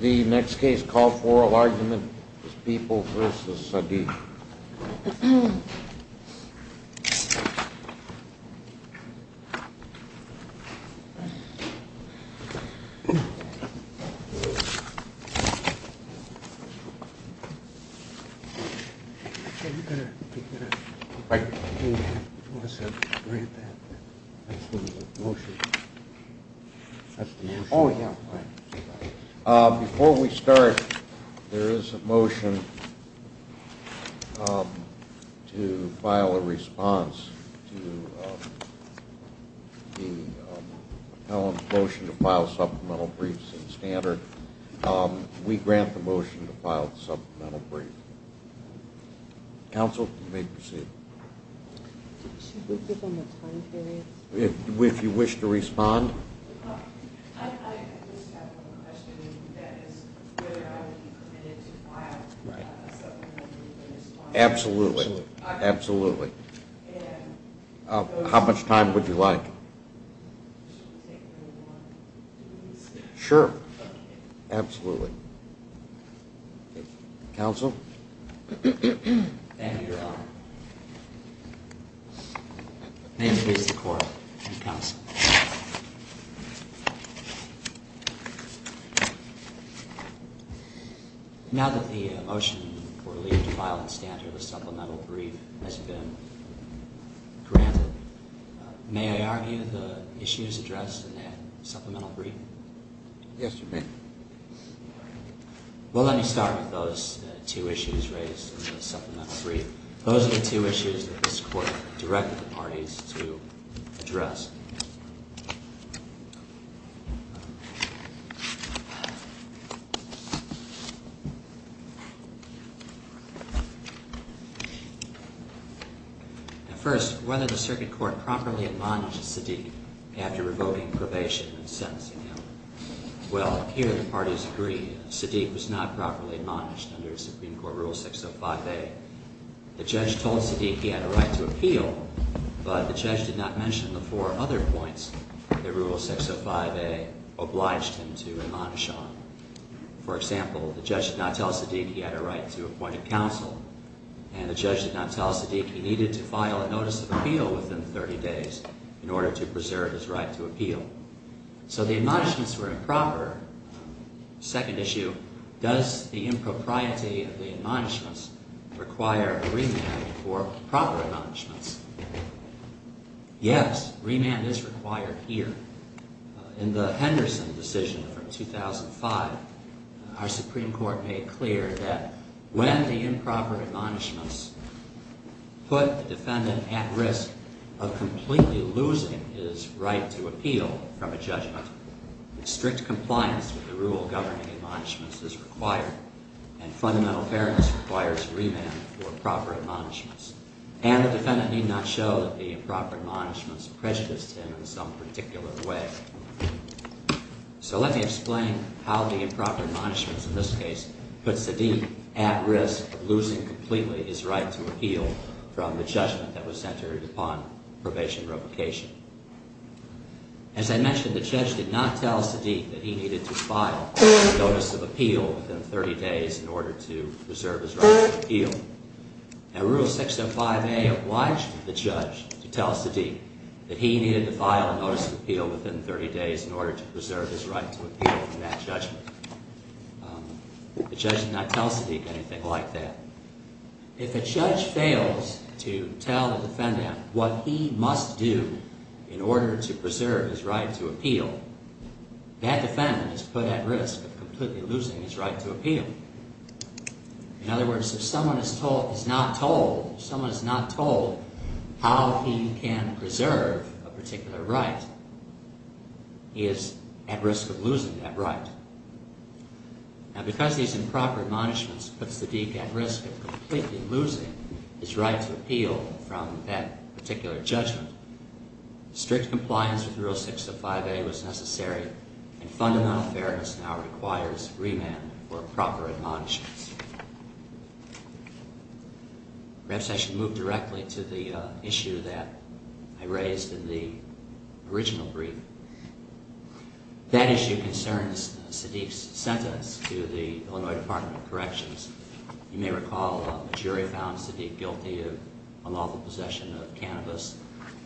The next case called for oral argument is People v. Sadiq. Before we start, there is a motion. We have a motion to file a response to the motion to file supplemental briefs in standard. We grant the motion to file supplemental briefs. Counsel, you may proceed. Should we give them a time period? If you wish to respond. I just have one question. That is whether I would be committed to file a supplemental brief in response. Absolutely. Absolutely. How much time would you like? Sure. Absolutely. Counsel? Thank you, Your Honor. May it please the Court. Counsel? Now that the motion for leaving to file in standard a supplemental brief has been granted, may I argue the issue is addressed in that supplemental brief? Yes, you may. Well, let me start with those two issues raised in the supplemental brief. Those are the two issues that this Court directed the parties to address. First, whether the Circuit Court promptly admonished Sadiq after revoking probation and sentencing him. Well, here the parties agree. Sadiq was not properly admonished under Supreme Court Rule 605A. The judge told Sadiq he had a right to appeal, but the judge did not mention the four other points that Rule 605A obliged him to admonish on. For example, the judge did not tell Sadiq he had a right to appoint a counsel, and the judge did not tell Sadiq he needed to file a notice of appeal within 30 days in order to preserve his right to appeal. So the admonishments were improper. Second issue, does the impropriety of the admonishments require a remand for proper admonishments? Yes, remand is required here. In the Henderson decision from 2005, our Supreme Court made clear that when the improper admonishments put the defendant at risk of completely losing his right to appeal from a judgment, strict compliance with the rule governing admonishments is required, and fundamental fairness requires remand for proper admonishments. And the defendant need not show that the improper admonishments prejudiced him in some particular way. So let me explain how the improper admonishments in this case put Sadiq at risk of losing completely his right to appeal from the judgment that was centered upon probation revocation. As I mentioned, the judge did not tell Sadiq that he needed to file a notice of appeal within 30 days in order to preserve his right to appeal. Now, Rule 605A obliged the judge to tell Sadiq that he needed to file a notice of appeal within 30 days in order to preserve his right to appeal from that judgment. The judge did not tell Sadiq anything like that. If a judge fails to tell the defendant what he must do in order to preserve his right to appeal, that defendant is put at risk of completely losing his right to appeal. In other words, if someone is not told how he can preserve a particular right, he is at risk of losing that right. Now, because these improper admonishments puts Sadiq at risk of completely losing his right to appeal from that particular judgment, strict compliance with Rule 605A was necessary and fundamental fairness now requires remand for proper admonishments. Perhaps I should move directly to the issue that I raised in the original brief. That issue concerns Sadiq's sentence to the Illinois Department of Corrections. You may recall a jury found Sadiq guilty of unlawful possession of cannabis.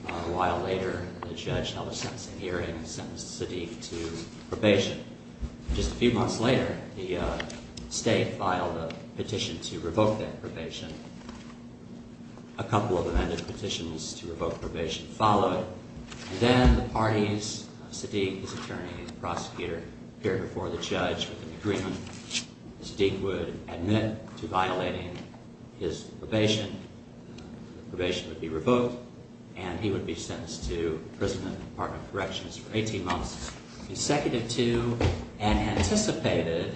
A while later, the judge held a sentencing hearing and sentenced Sadiq to probation. Just a few months later, the state filed a petition to revoke that probation. A couple of amended petitions to revoke probation followed. Then the parties, Sadiq, his attorney, and the prosecutor, appeared before the judge with an agreement. Sadiq would admit to violating his probation, the probation would be revoked, and he would be sentenced to imprisonment in the Department of Corrections for 18 months, consecutive to an anticipated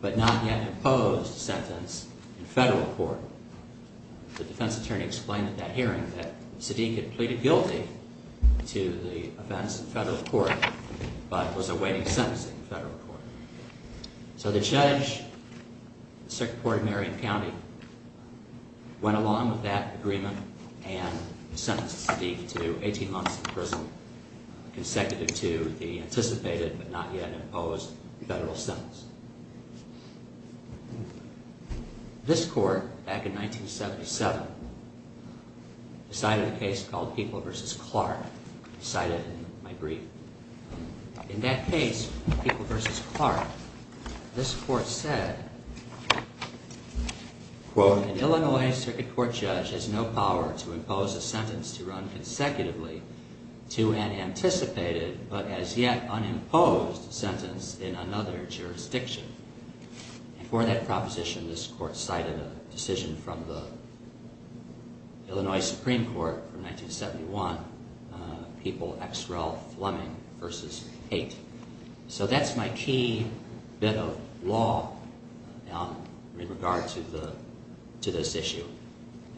but not yet imposed sentence in federal court. The defense attorney explained at that hearing that Sadiq had pleaded guilty to the offense in federal court but was awaiting sentencing in federal court. So the judge, the Circuit Court of Marion County, went along with that agreement and sentenced Sadiq to 18 months in prison, consecutive to the anticipated but not yet imposed federal sentence. This court, back in 1977, decided a case called People v. Clark, cited in my brief. In that case, People v. Clark, this court said, "...an Illinois circuit court judge has no power to impose a sentence to run consecutively to an anticipated but as yet unimposed sentence in another jurisdiction." For that proposition, this court cited a decision from the Illinois Supreme Court from 1971, People v. Fleming v. Haight. So that's my key bit of law in regard to this issue.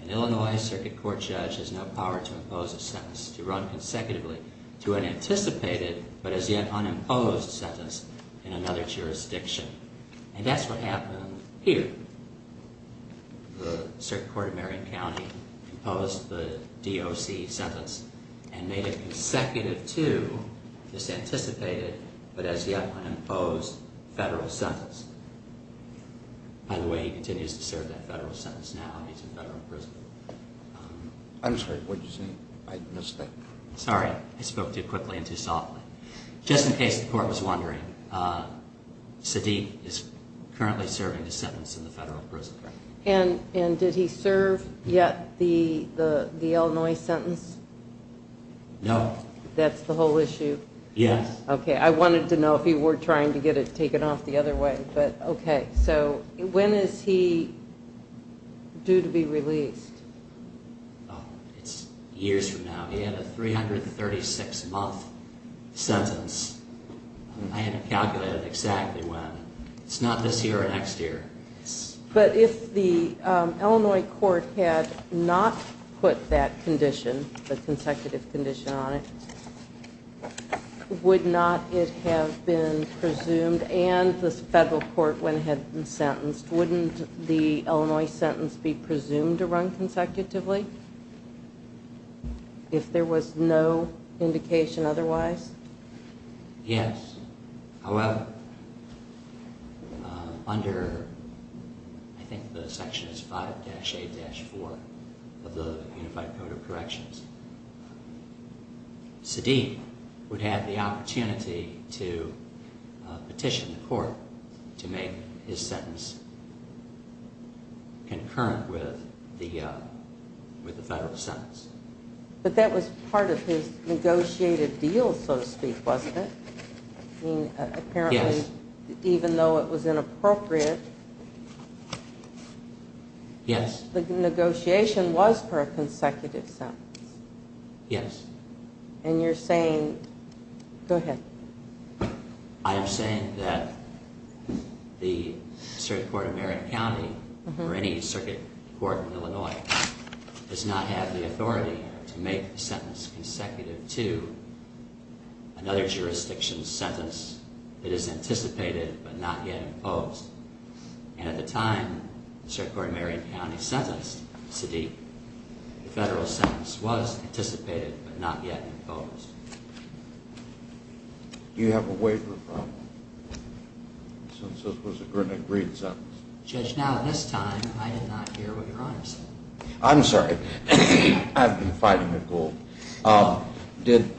"...an Illinois circuit court judge has no power to impose a sentence to run consecutively to an anticipated but as yet unimposed sentence in another jurisdiction." And that's what happened here. The Circuit Court of Marion County imposed the DOC sentence and made it consecutive to this anticipated but as yet unimposed federal sentence. By the way, he continues to serve that federal sentence now. He's in federal prison. I'm sorry. What did you say? I missed that. Sorry. I spoke too quickly and too softly. Just in case the court was wondering, Sadiq is currently serving his sentence in the federal prison. And did he serve yet the Illinois sentence? No. That's the whole issue? Yes. Okay. I wanted to know if he were trying to get it taken off the other way. Okay. So when is he due to be released? It's years from now. He had a 336-month sentence. I hadn't calculated exactly when. It's not this year or next year. But if the Illinois court had not put that condition, the consecutive condition on it, would not it have been presumed and the federal court, when it had been sentenced, wouldn't the Illinois sentence be presumed to run consecutively if there was no indication otherwise? Yes. However, under, I think the section is 5-A-4 of the Unified Code of Corrections, Sadiq would have the opportunity to petition the court to make his sentence concurrent with the federal sentence. But that was part of his negotiated deal, so to speak, wasn't it? Yes. Even though it was inappropriate, the negotiation was for a consecutive sentence. Yes. And you're saying, go ahead. I am saying that the Circuit Court of Merritt County, or any circuit court in Illinois, does not have the authority to make the sentence consecutive to another jurisdiction's sentence that is anticipated but not yet imposed. And at the time the Circuit Court of Merritt County sentenced Sadiq, the federal sentence was anticipated but not yet imposed. Do you have a waiver from him since it was an agreed sentence? Judge, now this time I did not hear what Your Honor said. I'm sorry. I've been fighting it, Gould. Did,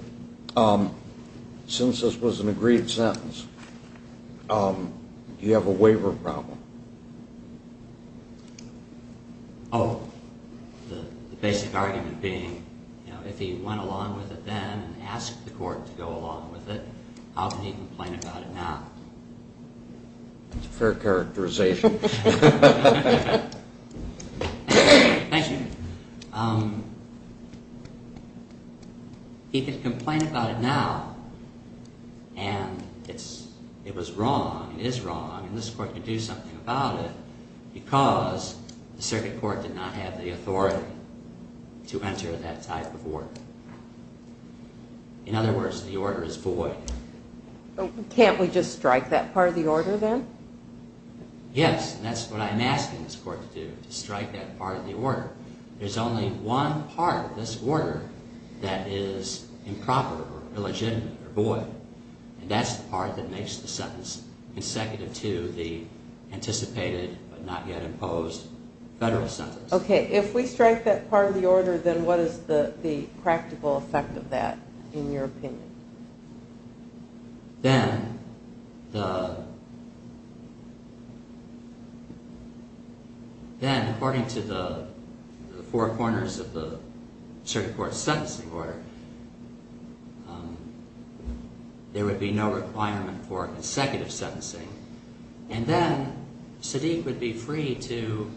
since this was an agreed sentence, do you have a waiver problem? Oh, the basic argument being, you know, if he went along with it then and asked the court to go along with it, how can he complain about it now? That's a fair characterization. Thank you. He can complain about it now, and it was wrong, it is wrong, and this court can do something about it because the circuit court did not have the authority to enter that type of order. In other words, the order is void. Can't we just strike that part of the order then? Yes, and that's what I'm asking this court to do, to strike that part of the order. There's only one part of this order that is improper or illegitimate or void, and that's the part that makes the sentence consecutive to the anticipated but not yet imposed federal sentence. Okay, if we strike that part of the order, then what is the practical effect of that, in your opinion? Then, according to the four corners of the circuit court's sentencing order, there would be no requirement for consecutive sentencing, and then Sadiq would be free to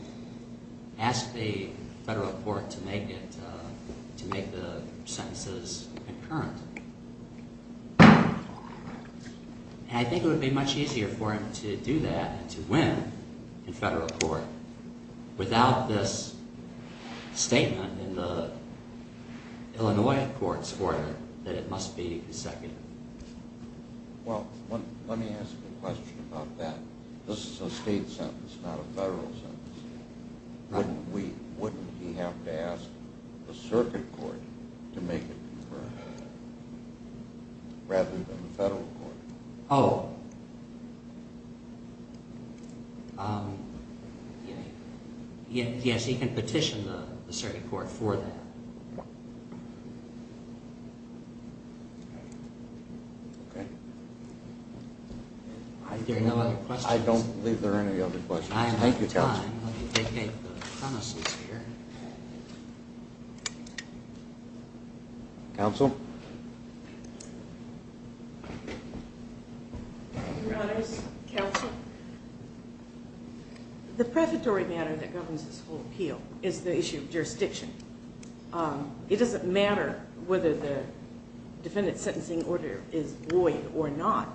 ask the federal court to make the sentences concurrent, and I think it would be much easier for him to do that and to win in federal court without this statement in the Illinois court's order that it must be consecutive. Well, let me ask a question about that. This is a state sentence, not a federal sentence. Wouldn't he have to ask the circuit court to make it concurrent rather than the federal court? Oh, yes, he can petition the circuit court for that. Okay. Are there no other questions? I don't believe there are any other questions. Thank you, Counsel. Counsel? Your Honors, Counsel, the prefatory matter that governs this whole appeal is the issue of jurisdiction. It doesn't matter whether the defendant's sentencing order is void or not.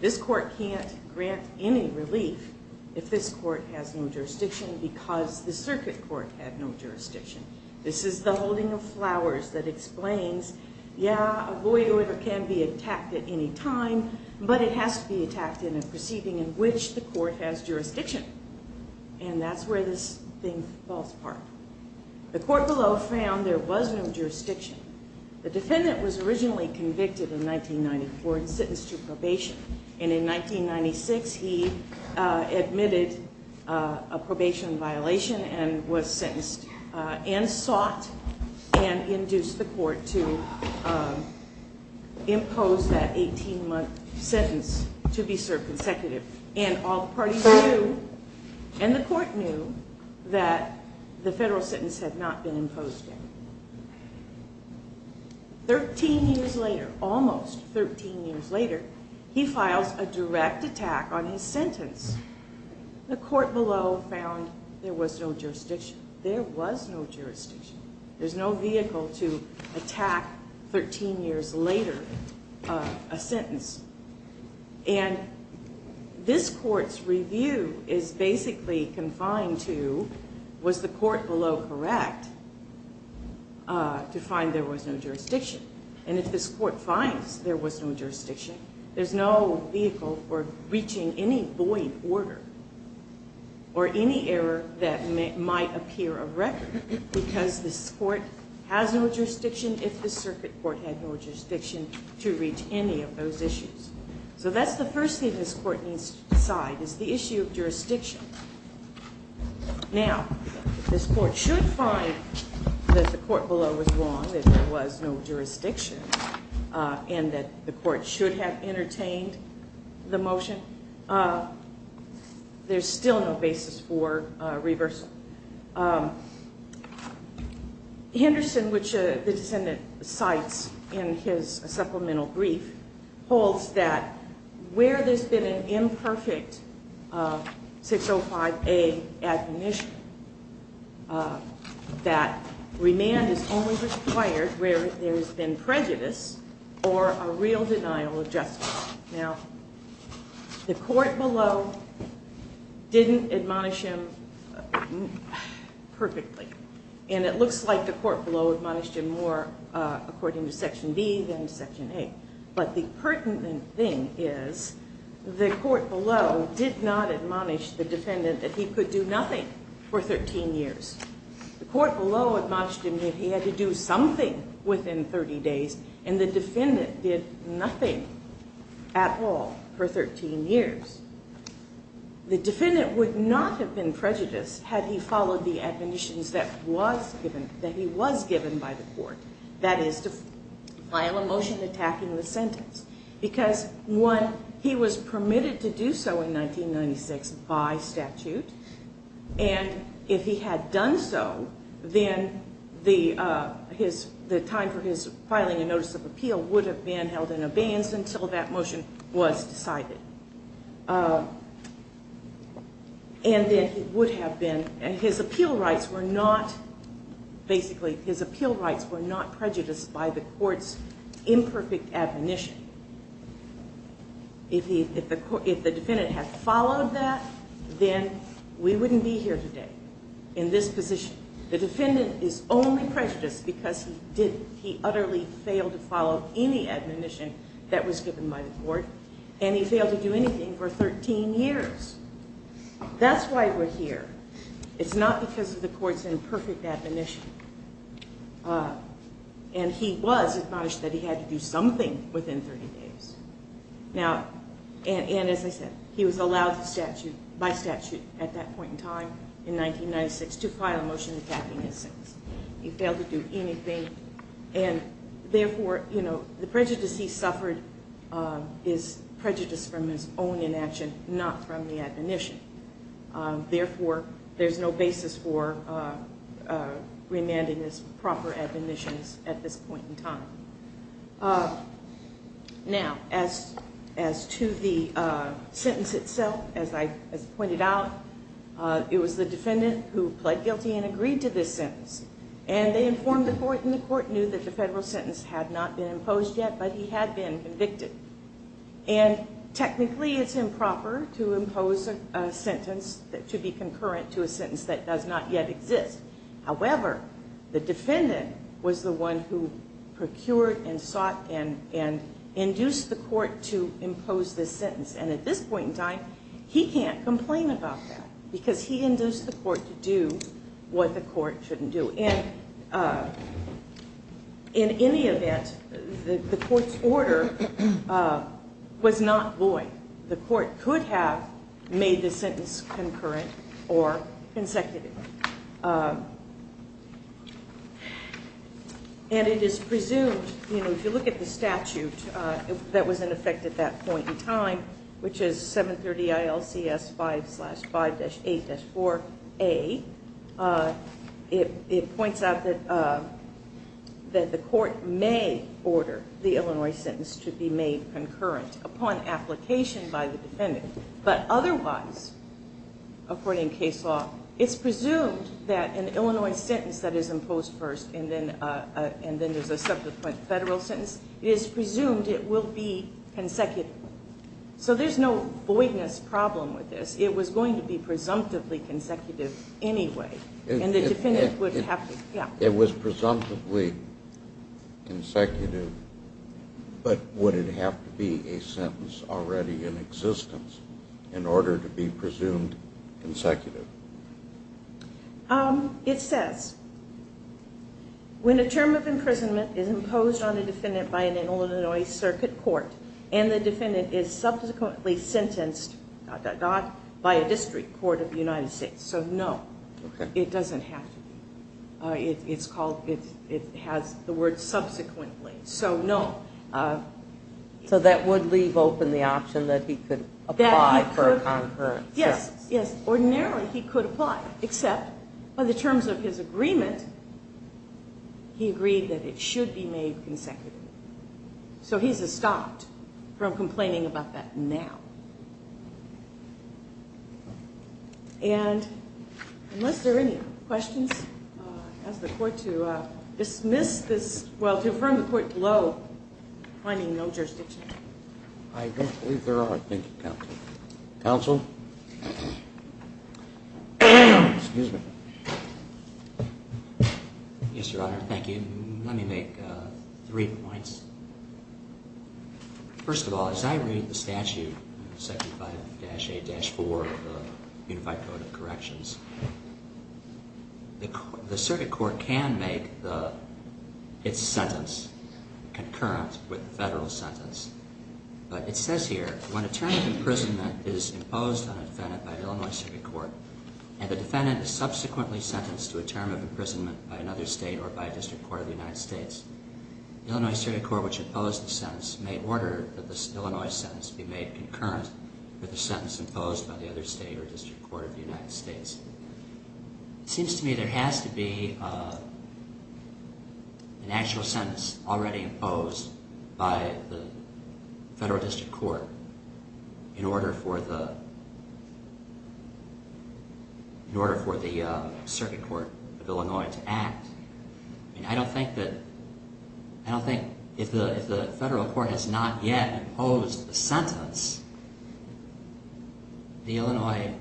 This court can't grant any relief if this court has no jurisdiction because the circuit court had no jurisdiction. This is the holding of flowers that explains, yeah, a void order can be attacked at any time, but it has to be attacked in a proceeding in which the court has jurisdiction, and that's where this thing falls apart. The court below found there was no jurisdiction. The defendant was originally convicted in 1994 and sentenced to probation, and in 1996 he admitted a probation violation and was sentenced and sought and induced the court to impose that 18-month sentence to be served consecutive. And all the parties knew, and the court knew, that the federal sentence had not been imposed yet. Thirteen years later, almost 13 years later, he files a direct attack on his sentence. The court below found there was no jurisdiction. There was no jurisdiction. There's no vehicle to attack 13 years later a sentence. And this court's review is basically confined to was the court below correct to find there was no jurisdiction? And if this court finds there was no jurisdiction, there's no vehicle for reaching any void order or any error that might appear a record because this court has no jurisdiction if the circuit court had no jurisdiction to reach any of those issues. So that's the first thing this court needs to decide is the issue of jurisdiction. Now, this court should find that the court below was wrong, that there was no jurisdiction, and that the court should have entertained the motion. There's still no basis for reversal. Henderson, which the descendant cites in his supplemental brief, holds that where there's been an imperfect 605A admonition, that remand is only required where there's been prejudice or a real denial of justice. Now, the court below didn't admonish him perfectly, and it looks like the court below admonished him more according to Section B than Section A. But the pertinent thing is the court below did not admonish the defendant that he could do nothing for 13 years. The court below admonished him that he had to do something within 30 days, and the defendant did nothing at all for 13 years. The defendant would not have been prejudiced had he followed the admonitions that he was given by the court, that is, to file a motion attacking the sentence, because, one, he was permitted to do so in 1996 by statute, and if he had done so, then the time for his filing a notice of appeal would have been held in abeyance until that motion was decided. And then he would have been, and his appeal rights were not, basically his appeal rights were not prejudiced by the court's imperfect admonition. If the defendant had followed that, then we wouldn't be here today in this position. The defendant is only prejudiced because he utterly failed to follow any admonition that was given by the court, and he failed to do anything for 13 years. That's why we're here. It's not because of the court's imperfect admonition. And he was admonished that he had to do something within 30 days. Now, and as I said, he was allowed by statute at that point in time in 1996 to file a motion attacking his sentence. He failed to do anything, and therefore, you know, the prejudice he suffered is prejudice from his own inaction, not from the admonition. Therefore, there's no basis for remanding his proper admonitions at this point in time. Now, as to the sentence itself, as I pointed out, it was the defendant who pled guilty and agreed to this sentence, and they informed the court, and the court knew that the federal sentence had not been imposed yet, but he had been convicted. And technically, it's improper to impose a sentence that should be concurrent to a sentence that does not yet exist. However, the defendant was the one who procured and sought and induced the court to impose this sentence, and at this point in time, he can't complain about that because he induced the court to do what the court shouldn't do. And in any event, the court's order was not void. The court could have made the sentence concurrent or consecutive. And it is presumed, you know, if you look at the statute that was in effect at that point in time, which is 730 ILCS 5-5-8-4A, it points out that the court may order the Illinois sentence to be made concurrent upon application by the defendant. But otherwise, according to case law, it's presumed that an Illinois sentence that is imposed first and then there's a subsequent federal sentence, it is presumed it will be consecutive. So there's no voidness problem with this. It was going to be presumptively consecutive anyway, and the defendant would have to ‑‑ yeah. It was presumptively consecutive, but would it have to be a sentence already in existence in order to be presumed consecutive? It says, when a term of imprisonment is imposed on a defendant by an Illinois circuit court and the defendant is subsequently sentenced, dot, dot, dot, by a district court of the United States. So no, it doesn't have to be. It has the word subsequently, so no. So that would leave open the option that he could apply for a concurrent sentence. Yes, yes. Ordinarily, he could apply, except by the terms of his agreement, he agreed that it should be made consecutive. So he's stopped from complaining about that now. And unless there are any questions, I'll ask the court to dismiss this, well, to affirm the court below finding no jurisdiction. I don't believe there are. Thank you, counsel. Counsel? Excuse me. Yes, Your Honor. Thank you. Let me make three points. First of all, as I read the statute, section 5‑A‑4 of the Unified Code of Corrections, the circuit court can make its sentence concurrent with federal sentence. But it says here, when a term of imprisonment is imposed on a defendant by an Illinois circuit court, and the defendant is subsequently sentenced to a term of imprisonment by another state or by a district court of the United States, the Illinois circuit court which imposed the sentence may order that this Illinois sentence be made concurrent with the sentence imposed by the other state or district court of the United States. It seems to me there has to be an actual sentence already imposed by the federal district court in order for the circuit court of Illinois to act. I don't think that if the federal court has not yet imposed the sentence, the Illinois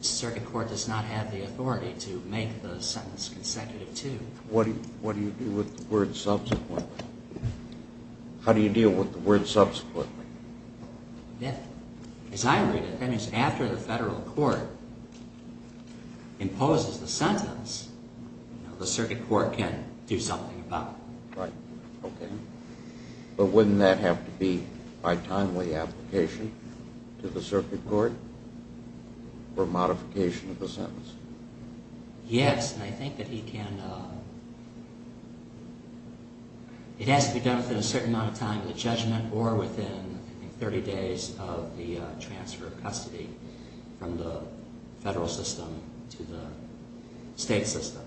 circuit court does not have the authority to make the sentence consecutive, too. What do you do with the word subsequently? How do you deal with the word subsequently? As I read it, that means after the federal court imposes the sentence, the circuit court can do something about it. Right. Okay. But wouldn't that have to be by timely application to the circuit court for modification of the sentence? Yes, and I think that he can, it has to be done within a certain amount of time of the judgment or within 30 days of the transfer of custody from the federal system to the state system.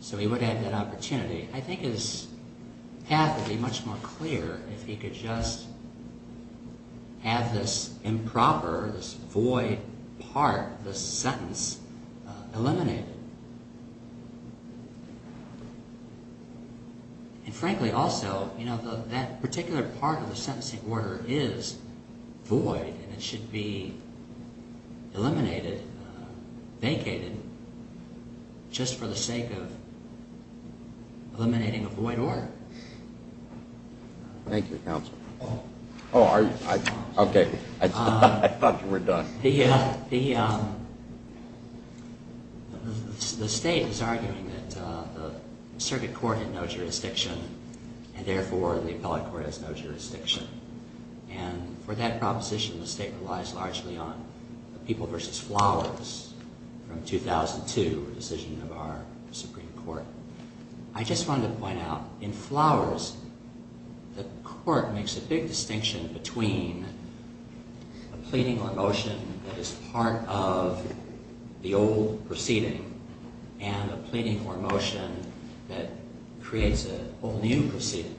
So he would have that opportunity. I think his path would be much more clear if he could just have this improper, this void part of the sentence eliminated. And frankly, also, that particular part of the sentencing order is void and it should be eliminated, vacated, just for the sake of eliminating a void order. Thank you, counsel. Oh, are you? Okay. I thought you were done. The state is arguing that the circuit court had no jurisdiction and therefore the appellate court has no jurisdiction. And for that proposition, the state relies largely on the people versus flowers from 2002, a decision of our Supreme Court. I just wanted to point out, in flowers, the court makes a big distinction between a pleading or motion that is part of the old proceeding and a pleading or motion that creates a whole new proceeding.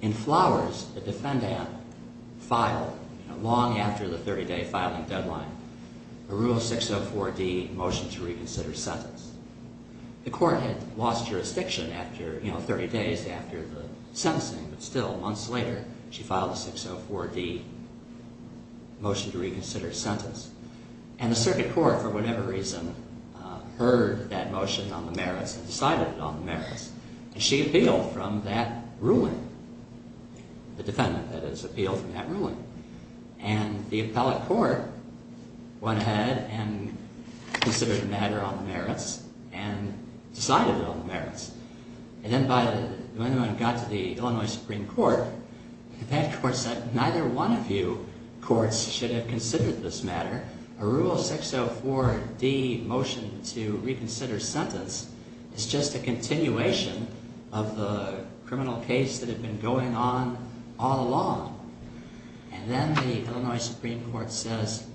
In flowers, the defendant filed long after the 30-day filing deadline a Rule 604D motion to reconsider sentence. The court had lost jurisdiction after, you know, 30 days after the sentencing, but still, months later, she filed a 604D motion to reconsider sentence. And the circuit court, for whatever reason, heard that motion on the merits and decided on the merits. And she appealed from that ruling. The defendant, that is, appealed from that ruling. And the appellate court went ahead and considered the matter on the merits and decided on the merits. And then when it got to the Illinois Supreme Court, that court said neither one of you courts should have considered this matter. A Rule 604D motion to reconsider sentence is just a continuation of the criminal case that had been going on all along. And then the Illinois Supreme Court says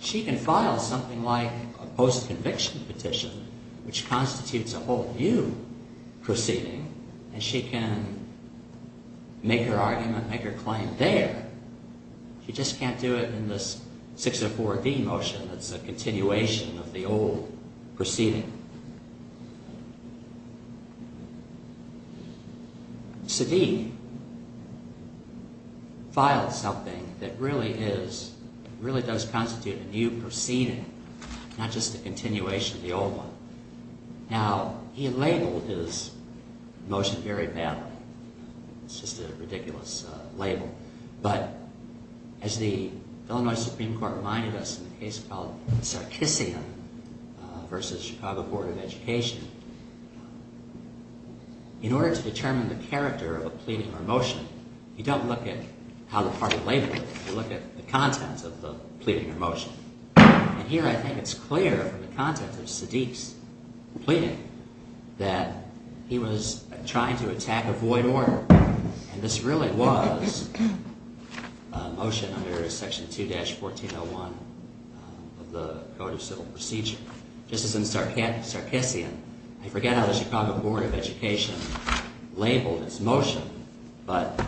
she can file something like a post-conviction petition, which constitutes a whole new proceeding, and she can make her argument, make her claim there. She just can't do it in this 604D motion that's a continuation of the old proceeding. Sadiq filed something that really is, really does constitute a new proceeding, not just a continuation of the old one. Now, he labeled his motion very badly. It's just a ridiculous label. But as the Illinois Supreme Court reminded us in the case called Sarkissia v. Chicago Board of Education, in order to determine the character of a pleading or motion, you don't look at how the party labeled it. You look at the content of the pleading or motion. And here I think it's clear from the content of Sadiq's pleading that he was trying to attack a void order. And this really was a motion under Section 2-1401 of the Code of Civil Procedure. This is in Sarkissia. I forget how the Chicago Board of Education labeled its motion, but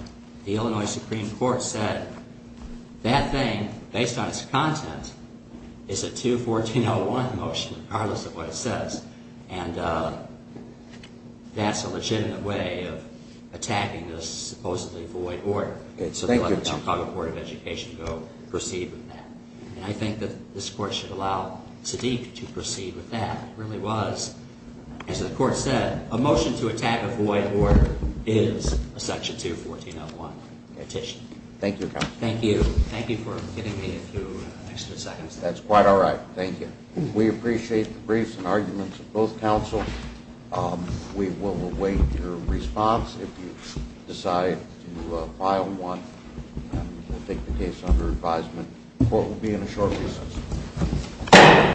the Illinois Supreme Court said that thing, based on its content, is a 21401 motion regardless of what it says. And that's a legitimate way of attacking this supposedly void order. So they let the Chicago Board of Education go proceed with that. And I think that this Court should allow Sadiq to proceed with that. It really was, as the Court said, a motion to attack a void order is a Section 21401 petition. Thank you, counsel. Thank you. Thank you for giving me a few extra seconds. That's quite all right. Thank you. We appreciate the briefs and arguments of both counsel. We will await your response if you decide to file one. And we'll take the case under advisement. The Court will be in a short recess.